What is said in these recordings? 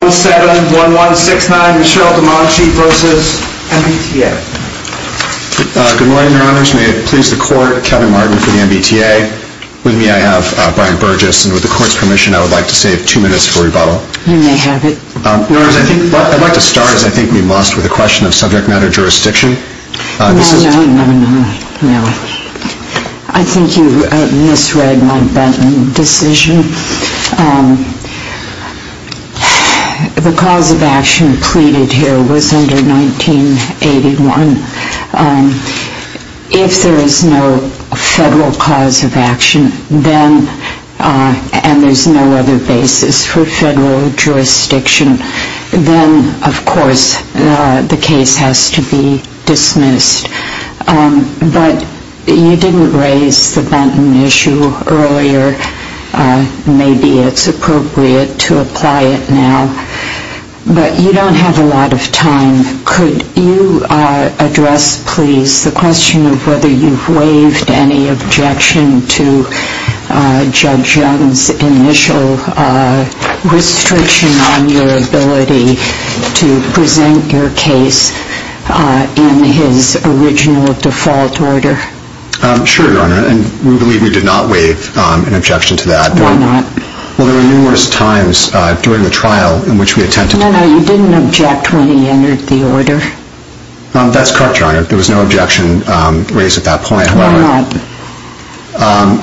Good morning, your honors. May it please the court, Kevin Martin for the MBTA. With me I have Brian Burgess, and with the court's permission I would like to save two minutes for rebuttal. You may have it. Your honors, I'd like to start, as I think we must, with a question of subject matter jurisdiction. No, no, no, no. I think you misread my decision. The cause of action pleaded here was under 1981. If there is no federal cause of action, then, and there's no other basis for federal jurisdiction, then of course the case has to be dismissed. But you didn't raise the Benton issue earlier. Maybe it's appropriate to apply it now. But you don't have a lot of time. Could you address, please, the question of whether you've waived any objection to Judge Young's initial restriction on your ability to present your case in his original default order? Sure, your honor, and we believe we did not waive an objection to that. Why not? Well, there were numerous times during the trial in which we attempted to... No, no, you didn't object when he entered the order. That's correct, your honor. There was no objection raised at that point. Why not?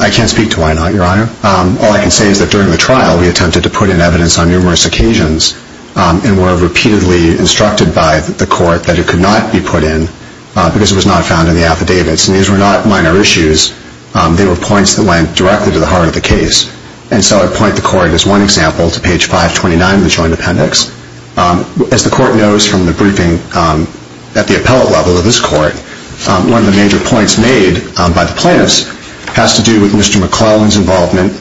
I can't speak to why not, your honor. All I can say is that during the trial we attempted to put in evidence on numerous occasions and were repeatedly instructed by the court that it could not be put in because it was not found in the affidavits. And these were not minor issues. They were points that went directly to the heart of the case. And so I point the court, as one example, to page 529 of the Joint Appendix. As the court knows from the briefing at the appellate level of this court, one of the major points made by the plaintiffs has to do with Mr. McClellan's involvement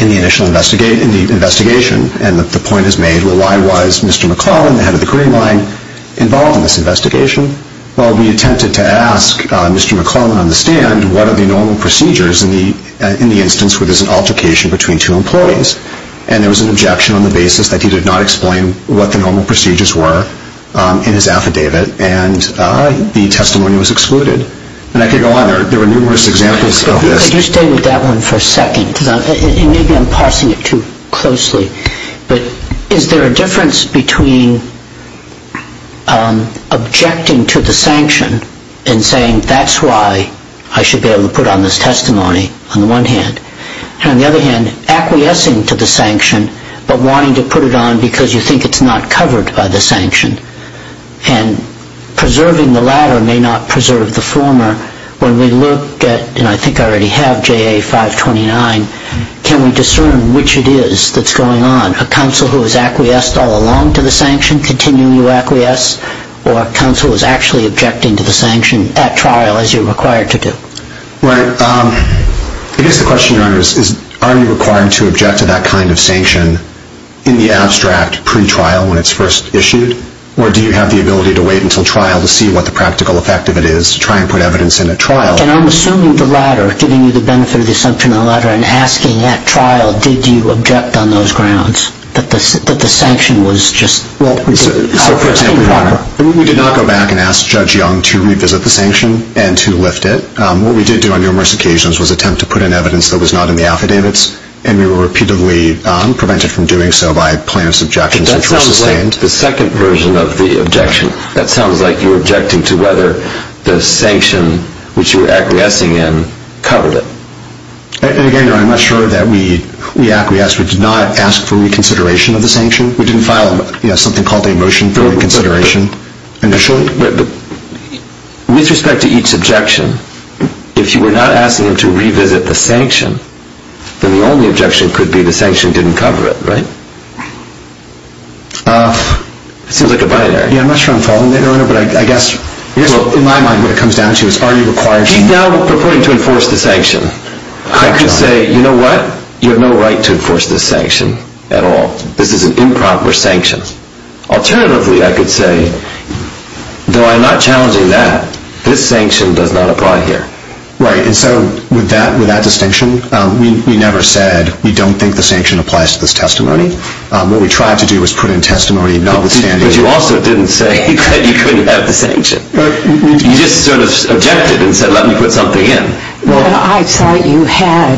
in the investigation. And the point is made, well, why was Mr. McClellan, the head of the Green Line, involved in this investigation? Well, we attempted to ask Mr. McClellan on the stand, what are the normal procedures in the instance where there's an altercation between two employees? And there was an objection on the basis that he did not explain what the normal procedures were in his affidavit and the testimony was excluded. And I could go on. There were numerous examples of this. Could you stay with that one for a second? Maybe I'm parsing it too closely. But is there a difference between objecting to the sanction and saying that's why I should be able to put on this testimony, on the one hand, and, on the other hand, acquiescing to the sanction but wanting to put it on because you think it's not covered by the sanction And preserving the latter may not preserve the former. When we look at, and I think I already have, JA 529, can we discern which it is that's going on? A counsel who has acquiesced all along to the sanction, continually acquiesce, or a counsel who is actually objecting to the sanction at trial as you're required to do? Right. I guess the question, Your Honor, is are you required to object to that kind of sanction in the abstract pre-trial when it's first issued? Or do you have the ability to wait until trial to see what the practical effect of it is to try and put evidence in at trial? And I'm assuming the latter, giving you the benefit of the assumption of the latter and asking at trial, did you object on those grounds that the sanction was just what we did? So, for example, Your Honor, we did not go back and ask Judge Young to revisit the sanction and to lift it. What we did do on numerous occasions was attempt to put in evidence that was not in the affidavits, and we were repeatedly prevented from doing so by plaintiff's objections which were sustained. The second version of the objection, that sounds like you're objecting to whether the sanction which you were acquiescing in covered it. And, again, Your Honor, I'm not sure that we acquiesced. We did not ask for reconsideration of the sanction. We didn't file something called a motion for reconsideration initially. But with respect to each objection, if you were not asking them to revisit the sanction, then the only objection could be the sanction didn't cover it, right? It seems like a binary. Yeah, I'm not sure I'm following that, Your Honor, but I guess in my mind what it comes down to is are you requiring... He's now purporting to enforce the sanction. I could say, you know what, you have no right to enforce this sanction at all. This is an improper sanction. Alternatively, I could say, though I'm not challenging that, this sanction does not apply here. Right, and so with that distinction, we never said we don't think the sanction applies to this testimony. What we tried to do was put in testimony notwithstanding... But you also didn't say that you couldn't have the sanction. You just sort of objected and said, let me put something in. I thought you had,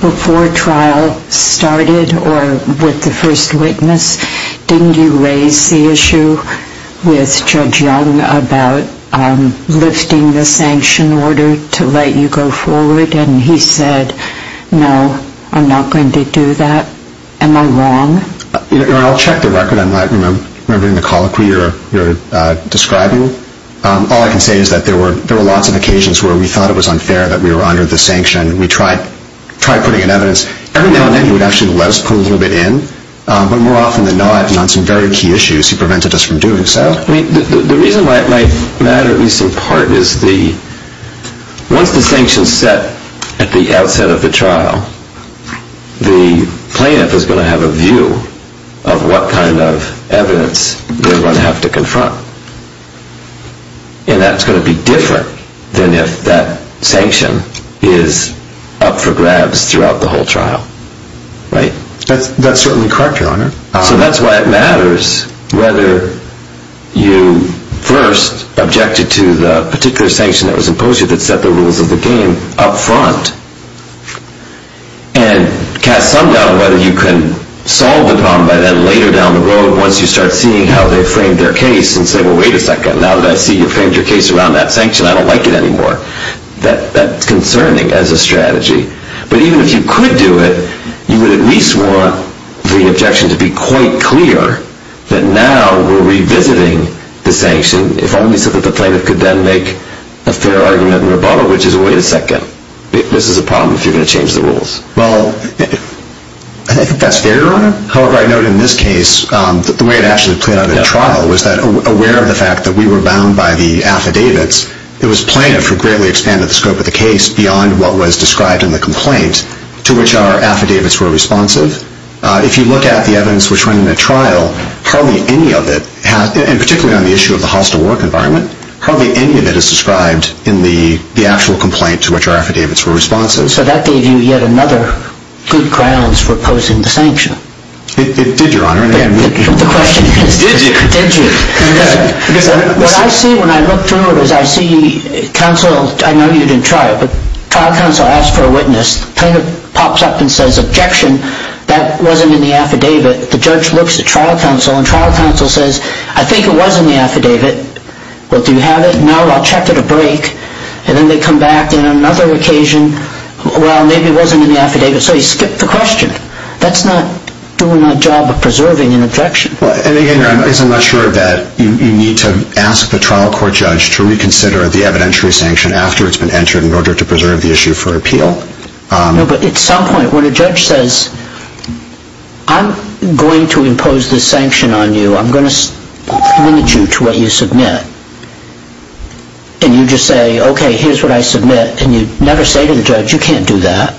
before trial started or with the first witness, didn't you raise the issue with Judge Young about lifting the sanction order to let you go forward? And he said, no, I'm not going to do that. Am I wrong? Your Honor, I'll check the record. I'm not remembering the colloquy you're describing. All I can say is that there were lots of occasions where we thought it was unfair that we were under the sanction. We tried putting in evidence. Every now and then he would actually let us put a little bit in. But more often than not, on some very key issues, he prevented us from doing so. The reason why it might matter, at least in part, is once the sanction is set at the outset of the trial, the plaintiff is going to have a view of what kind of evidence they're going to have to confront. And that's going to be different than if that sanction is up for grabs throughout the whole trial. Right? That's certainly correct, Your Honor. So that's why it matters whether you first objected to the particular sanction that was imposed, or the sanction that set the rules of the game up front, and cast some doubt on whether you can solve the problem by then later down the road, once you start seeing how they framed their case, and say, well, wait a second. Now that I see you framed your case around that sanction, I don't like it anymore. That's concerning as a strategy. But even if you could do it, you would at least want the objection to be quite clear that now we're revisiting the sanction, if only so that the plaintiff could then make a fair argument and rebuttal, which is, wait a second. This is a problem if you're going to change the rules. Well, I think that's fair, Your Honor. However, I note in this case that the way it actually played out in the trial was that, aware of the fact that we were bound by the affidavits, it was plaintiff who greatly expanded the scope of the case beyond what was described in the complaint, to which our affidavits were responsive. If you look at the evidence which went in the trial, hardly any of it, and particularly on the issue of the hostile work environment, hardly any of it is described in the actual complaint to which our affidavits were responsive. So that gave you yet another good grounds for opposing the sanction. It did, Your Honor. The question is, did you? What I see when I look through it is I see counsel, I know you didn't try it, but trial counsel asked for a witness. Plaintiff pops up and says, objection, that wasn't in the affidavit. The judge looks at trial counsel and trial counsel says, I think it was in the affidavit. Well, do you have it? No, I'll check at a break. And then they come back and on another occasion, well, maybe it wasn't in the affidavit. So you skip the question. That's not doing a job of preserving an objection. And again, Your Honor, I guess I'm not sure that you need to ask the trial court judge to reconsider the evidentiary sanction after it's been entered in order to preserve the issue for appeal. No, but at some point when a judge says, I'm going to impose this sanction on you, I'm going to limit you to what you submit, and you just say, okay, here's what I submit, and you never say to the judge, you can't do that,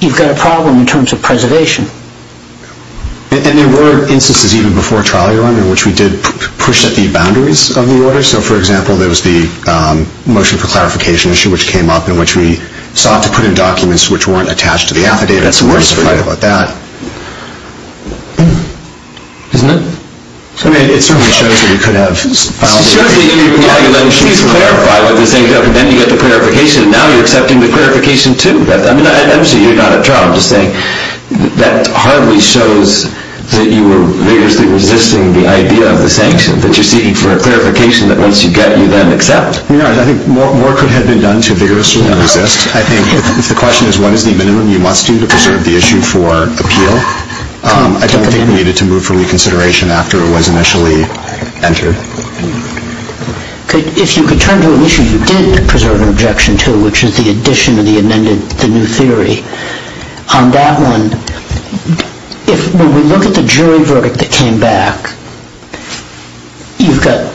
you've got a problem in terms of preservation. And there were instances even before trial, Your Honor, in which we did push at the boundaries of the order. So, for example, there was the motion for clarification issue, which came up, in which we sought to put in documents which weren't attached to the affidavit. That's worse for you. I'm just afraid about that. Isn't it? I mean, it certainly shows that we could have filed a case. It shows that you're talking about, and she's clarified what we're saying, and then you get the clarification, and now you're accepting the clarification too. I mean, obviously you're not at trial. I'm just saying that hardly shows that you were vigorously resisting the idea of the sanction, that you're seeking for a clarification that once you get, you then accept. Your Honor, I think more could have been done to vigorously resist. I think if the question is what is the minimum you must do to preserve the issue for appeal, I don't think we needed to move for reconsideration after it was initially entered. If you could turn to an issue you did preserve an objection to, which is the addition of the amended, the new theory. On that one, when we look at the jury verdict that came back, you've got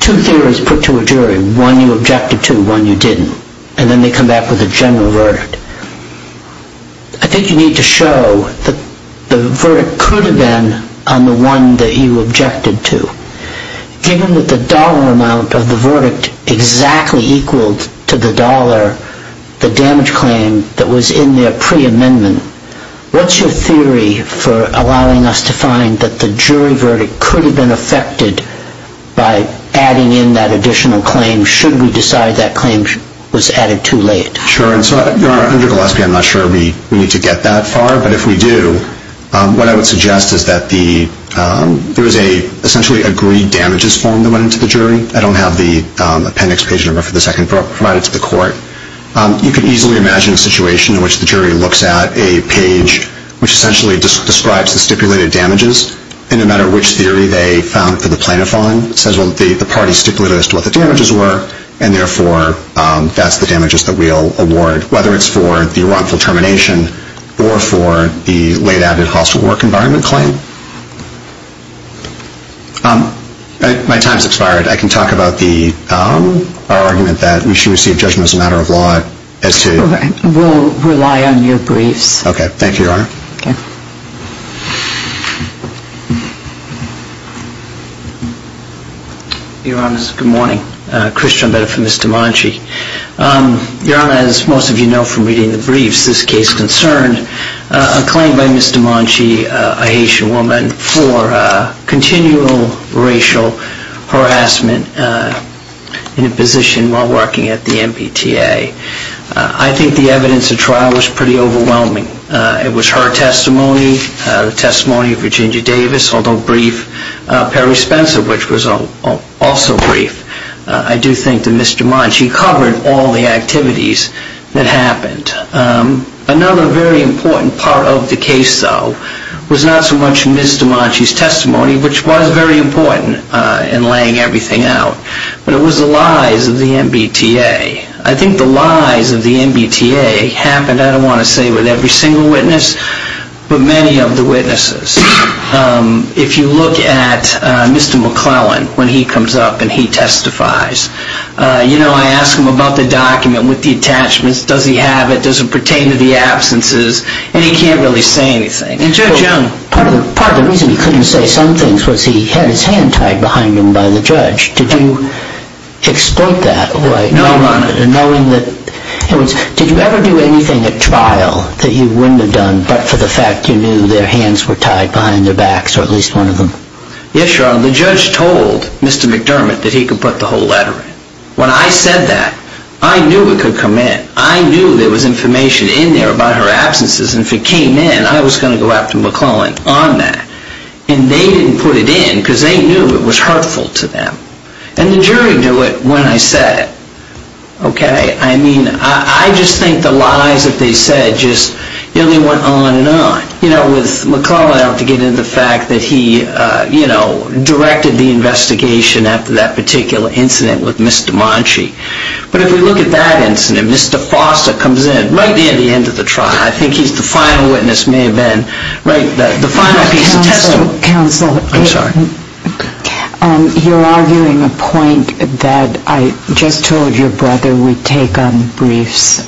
two theories put to a jury, one you objected to, one you didn't, and then they come back with a general verdict. I think you need to show that the verdict could have been on the one that you objected to. Given that the dollar amount of the verdict exactly equaled to the dollar, the damage claim that was in the preamendment, what's your theory for allowing us to find that the jury verdict could have been affected by adding in that additional claim should we decide that claim was added too late? Sure. Your Honor, under Gillespie, I'm not sure we need to get that far, but if we do, what I would suggest is that there is an essentially agreed damages form that went into the jury. I don't have the appendix page number for the second provided to the court. You can easily imagine a situation in which the jury looks at a page which essentially describes the stipulated damages, and no matter which theory they found for the plaintiff on, it says, well, the party stipulated as to what the damages were, and therefore that's the damages that we'll award, whether it's for the wrongful termination or for the late added hostile work environment claim. My time has expired. I can talk about our argument that we should receive judgment as a matter of law as to... We'll rely on your briefs. Okay. Thank you, Your Honor. Your Honor, good morning. Christian, better for Ms. DiManchi. Your Honor, as most of you know from reading the briefs, this case concerned a claim by Ms. DiManchi, a Haitian woman, for continual racial harassment in a position while working at the MBTA. I think the evidence at trial was pretty overwhelming. It was her testimony, the testimony of Virginia Davis, although brief, Perry Spencer, which was also brief. I do think that Ms. DiManchi covered all the activities that happened. Another very important part of the case, though, was not so much Ms. DiManchi's testimony, which was very important in laying everything out, but it was the lies of the MBTA. I think the lies of the MBTA happened, I don't want to say with every single witness, but many of the witnesses. If you look at Mr. McClellan, when he comes up and he testifies, you know, I ask him about the document with the attachments. Does he have it? Does it pertain to the absences? And he can't really say anything. And Judge Young... Part of the reason he couldn't say some things was he had his hand tied behind him by the judge. No, Your Honor. Did you ever do anything at trial that you wouldn't have done but for the fact you knew their hands were tied behind their backs, or at least one of them? Yes, Your Honor. The judge told Mr. McDermott that he could put the whole letter in. When I said that, I knew it could come in. I knew there was information in there about her absences, and if it came in, I was going to go after McClellan on that. And they didn't put it in because they knew it was hurtful to them. And the jury knew it when I said it, okay? I mean, I just think the lies that they said just, you know, they went on and on. You know, with McClellan, I don't have to get into the fact that he, you know, directed the investigation after that particular incident with Ms. DeManchi. But if we look at that incident, Mr. Foster comes in right near the end of the trial. I think he's the final witness, may have been, right, the final piece of testimony. Counsel. I'm sorry. You're arguing a point that I just told your brother we'd take on briefs,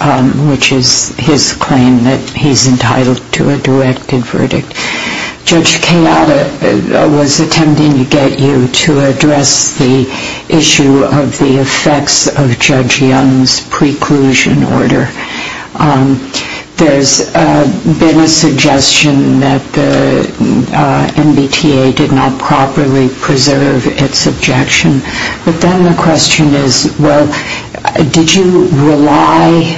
which is his claim that he's entitled to a directed verdict. Judge Kayata was attempting to get you to address the issue of the effects of Judge Young's preclusion order. There's been a suggestion that the MBTA did not properly preserve its objection. But then the question is, well, did you rely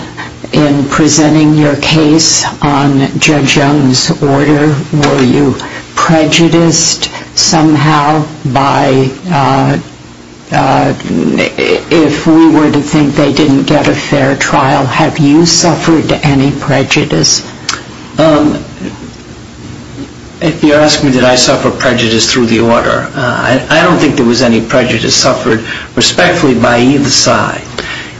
in presenting your case on Judge Young's order? Were you prejudiced somehow by, if we were to think they didn't get a fair trial, have you suffered any prejudice? If you're asking did I suffer prejudice through the order, I don't think there was any prejudice suffered respectfully by either side.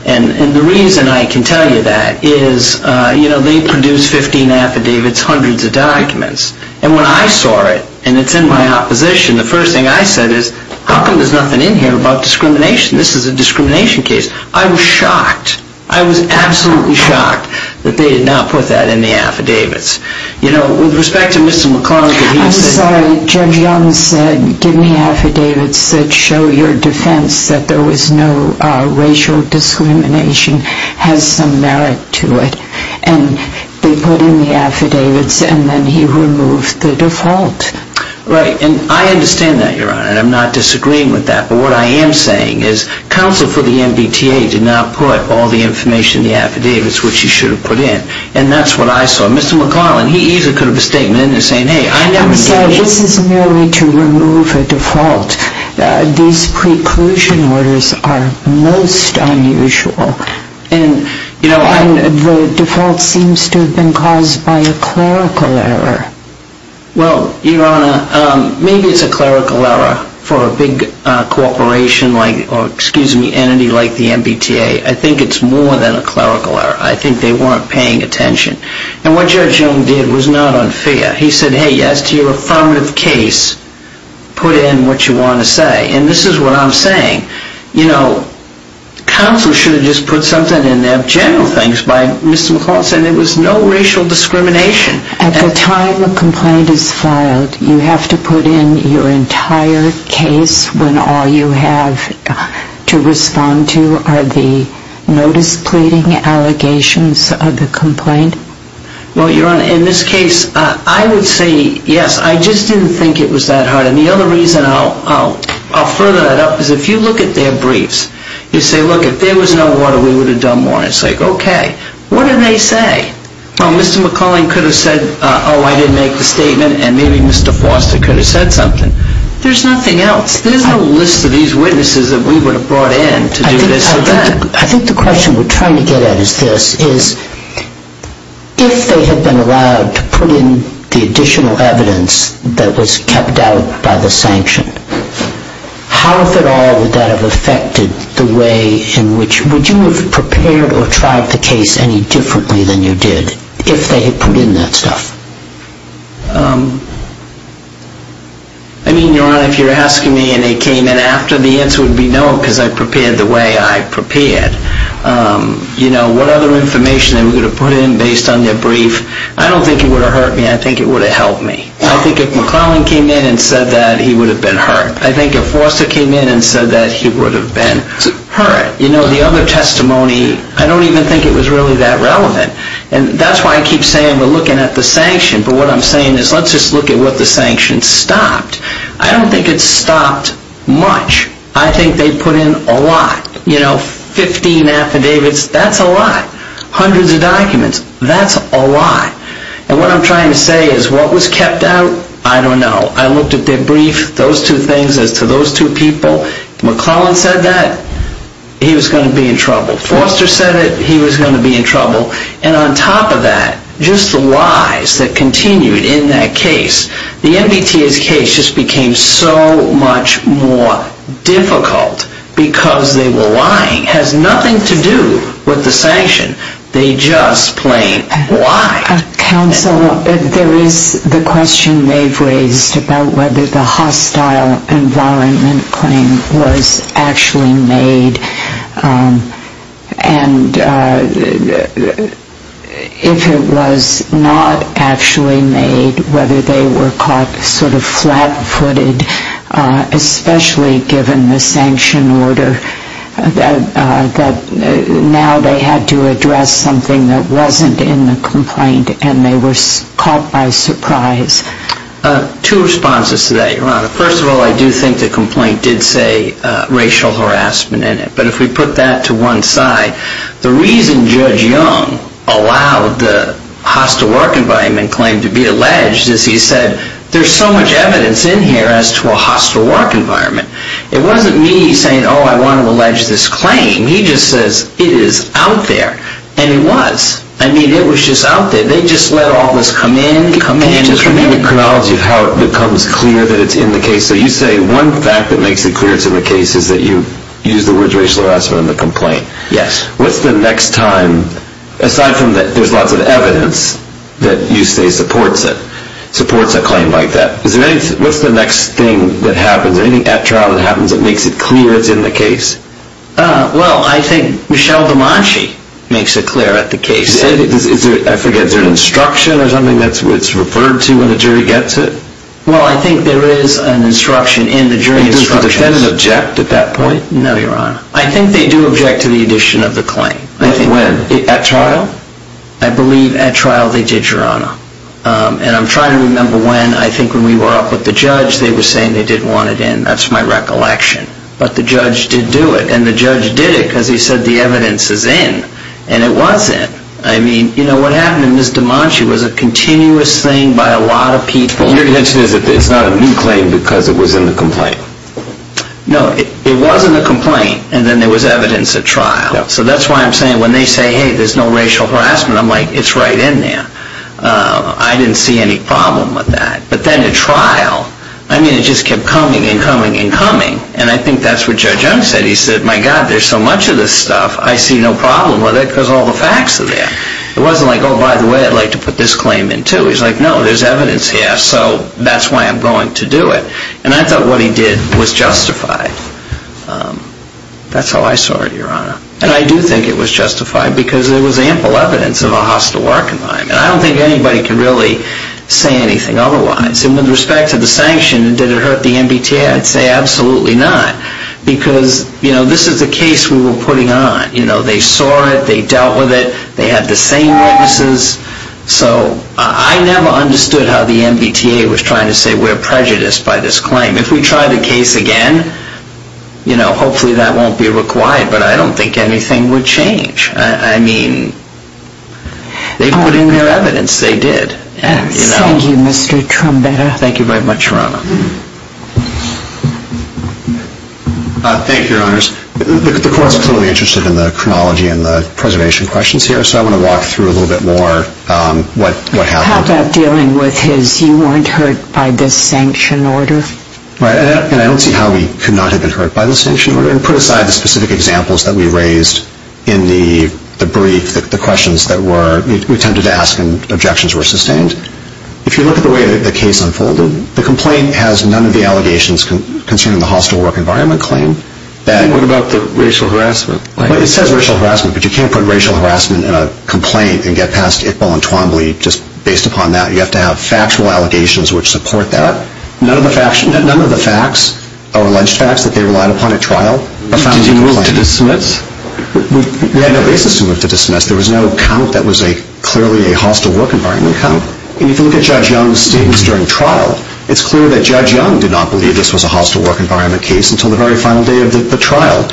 And the reason I can tell you that is, you know, they produced 15 affidavits, hundreds of documents. And when I saw it, and it's in my opposition, the first thing I said is, how come there's nothing in here about discrimination? This is a discrimination case. I was shocked. I was absolutely shocked that they did not put that in the affidavits. You know, with respect to Mr. McCloskey, he said... ...has some merit to it. And they put in the affidavits, and then he removed the default. Right. And I understand that, Your Honor, and I'm not disagreeing with that. But what I am saying is, counsel for the MBTA did not put all the information in the affidavits which he should have put in. And that's what I saw. Mr. McClellan, he either could have a statement in there saying, hey, I never... I'm sorry. This is merely to remove a default. These preclusion orders are most unusual. And the default seems to have been caused by a clerical error. Well, Your Honor, maybe it's a clerical error for a big corporation like, or, excuse me, entity like the MBTA. I think it's more than a clerical error. I think they weren't paying attention. And what Judge Young did was not unfair. He said, hey, as to your affirmative case, put in what you want to say. And this is what I'm saying. You know, counsel should have just put something in there, general things, by Mr. McClellan saying there was no racial discrimination. At the time a complaint is filed, you have to put in your entire case when all you have to respond to are the notice pleading allegations of the complaint? Well, Your Honor, in this case, I would say, yes, I just didn't think it was that hard. And the other reason I'll further that up is if you look at their briefs, you say, look, if there was no water, we would have done more. It's like, okay, what did they say? Well, Mr. McClellan could have said, oh, I didn't make the statement, and maybe Mr. Foster could have said something. There's nothing else. There's no list of these witnesses that we would have brought in to do this or that. I think the question we're trying to get at is this, is if they had been allowed to put in the additional evidence that was kept out by the sanction, how, if at all, would that have affected the way in which you would have prepared or tried the case any differently than you did if they had put in that stuff? I mean, Your Honor, if you're asking me and they came in after, the answer would be no, because I prepared the way I prepared. You know, what other information they were going to put in based on their brief, I don't think it would have hurt me. I think it would have helped me. I think if McClellan came in and said that, he would have been hurt. I think if Foster came in and said that, he would have been hurt. You know, the other testimony, I don't even think it was really that relevant. And that's why I keep saying we're looking at the sanction, but what I'm saying is let's just look at what the sanction stopped. I don't think it stopped much. I think they put in a lot. You know, 15 affidavits, that's a lot. Hundreds of documents, that's a lot. And what I'm trying to say is what was kept out, I don't know. I looked at their brief, those two things as to those two people. McClellan said that, he was going to be in trouble. Foster said it, he was going to be in trouble. And on top of that, just the lies that continued in that case. The MBTA's case just became so much more difficult because they were lying. It has nothing to do with the sanction. They just plain lied. Counsel, there is the question they've raised about whether the hostile environment claim was actually made. And if it was not actually made, whether they were caught sort of flat-footed, especially given the sanction order that now they had to address something that wasn't in the complaint and they were caught by surprise. Two responses to that, Your Honor. First of all, I do think the complaint did say racial harassment in it. But if we put that to one side, the reason Judge Young allowed the hostile work environment claim to be alleged is he said, there's so much evidence in here as to a hostile work environment. It wasn't me saying, oh, I want to allege this claim. He just says, it is out there. And it was. I mean, it was just out there. They just let all this come in, come in, and come in. Can you give a chronology of how it becomes clear that it's in the case? So you say one fact that makes it clear it's in the case is that you used the words racial harassment in the complaint. Yes. What's the next time, aside from that there's lots of evidence that you say supports it, supports a claim like that, what's the next thing that happens? Anything at trial that happens that makes it clear it's in the case? Well, I think Michelle DeManchi makes it clear at the case. I forget, is there an instruction or something that's referred to when the jury gets it? Well, I think there is an instruction in the jury instructions. No, Your Honor. I think they do object to the addition of the claim. When? At trial. I believe at trial they did, Your Honor. And I'm trying to remember when. I think when we were up with the judge, they were saying they didn't want it in. That's my recollection. But the judge did do it. And the judge did it because he said the evidence is in. And it wasn't. I mean, you know, what happened to Ms. DeManchi was a continuous thing by a lot of people. Your intention is that it's not a new claim because it was in the complaint? No, it wasn't a complaint. And then there was evidence at trial. So that's why I'm saying when they say, hey, there's no racial harassment, I'm like, it's right in there. I didn't see any problem with that. But then at trial, I mean, it just kept coming and coming and coming. And I think that's what Judge Young said. He said, my God, there's so much of this stuff. I see no problem with it because all the facts are there. It wasn't like, oh, by the way, I'd like to put this claim in too. He's like, no, there's evidence here. So that's why I'm going to do it. And I thought what he did was justified. That's how I saw it, Your Honor. And I do think it was justified because there was ample evidence of a hostile work environment. I don't think anybody can really say anything otherwise. And with respect to the sanction, did it hurt the MBTA? I'd say absolutely not because, you know, this is a case we were putting on. You know, they saw it. They dealt with it. They had the same witnesses. So I never understood how the MBTA was trying to say we're prejudiced by this claim. If we try the case again, you know, hopefully that won't be required. But I don't think anything would change. I mean, they put in their evidence. They did. Thank you, Mr. Trombetta. Thank you very much, Your Honor. Thank you, Your Honors. The Court's clearly interested in the chronology and the preservation questions here. So I want to walk through a little bit more what happened. How about dealing with his you weren't hurt by the sanction order? Right. And I don't see how he could not have been hurt by the sanction order. And put aside the specific examples that we raised in the brief, the questions that were attempted to ask, and objections were sustained. If you look at the way the case unfolded, the complaint has none of the allegations concerning the hostile work environment claim. And what about the racial harassment? Well, it says racial harassment, but you can't put racial harassment in a complaint and get past Iqbal and Twombly just based upon that. You have to have factual allegations which support that. None of the facts or alleged facts that they relied upon at trial are found in the complaint. Did you move to dismiss? We had no basis to move to dismiss. There was no count that was clearly a hostile work environment count. And if you look at Judge Young's statements during trial, it's clear that Judge Young did not believe this was a hostile work environment case until the very final day of the trial.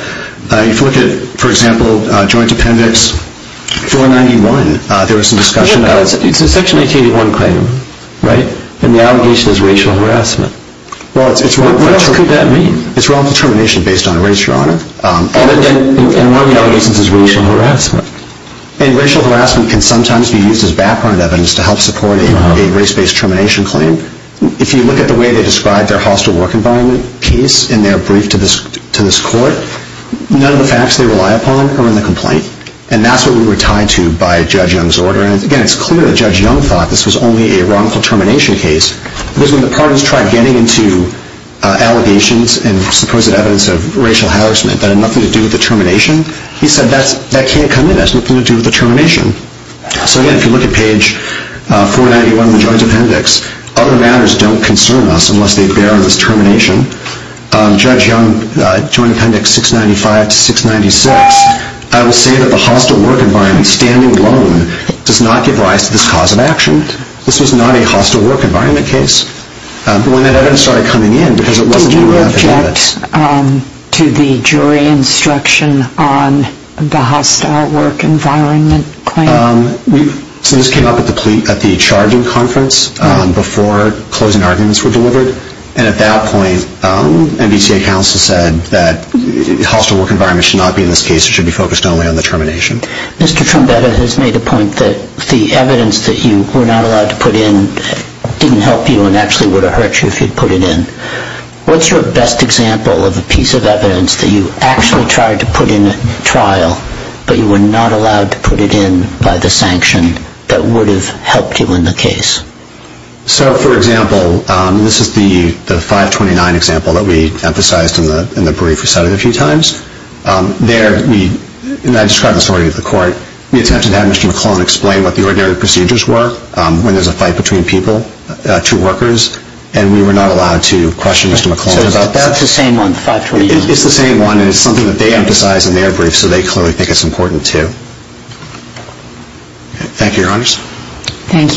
If you look at, for example, Joint Appendix 491, there was some discussion about it. It's a Section 1981 claim, right? And the allegation is racial harassment. What else could that mean? It's wrongful termination based on race, Your Honor. And one of the allegations is racial harassment. And racial harassment can sometimes be used as background evidence to help support a race-based termination claim. If you look at the way they described their hostile work environment case in their brief to this court, none of the facts they rely upon are in the complaint. And that's what we were tied to by Judge Young's order. And, again, it's clear that Judge Young thought this was only a wrongful termination case because when the parties tried getting into allegations and supposed evidence of racial harassment that had nothing to do with the termination, he said that can't come in. That has nothing to do with the termination. So, again, if you look at page 491 in the Joint Appendix, other matters don't concern us unless they bear this termination. Judge Young, Joint Appendix 695 to 696, I will say that the hostile work environment standing alone does not give rise to this cause of action. This was not a hostile work environment case. But when that evidence started coming in because it wasn't enough evidence. Did you submit to the jury instruction on the hostile work environment claim? So this came up at the charging conference before closing arguments were delivered. And at that point, MBTA counsel said that hostile work environment should not be in this case. It should be focused only on the termination. Mr. Trombetta has made a point that the evidence that you were not allowed to put in didn't help you and actually would have hurt you if you had put it in. What's your best example of a piece of evidence that you actually tried to put in a trial, but you were not allowed to put it in by the sanction that would have helped you in the case? So, for example, this is the 529 example that we emphasized in the brief we cited a few times. There we, and I described this already to the court, we attempted to have Mr. McClellan explain what the ordinary procedures were when there's a fight between people, two workers, and we were not allowed to question Mr. McClellan about that. So that's the same one, 529? It's the same one, and it's something that they emphasized in their brief, so they clearly think it's important, too. Thank you, Your Honors. Thank you.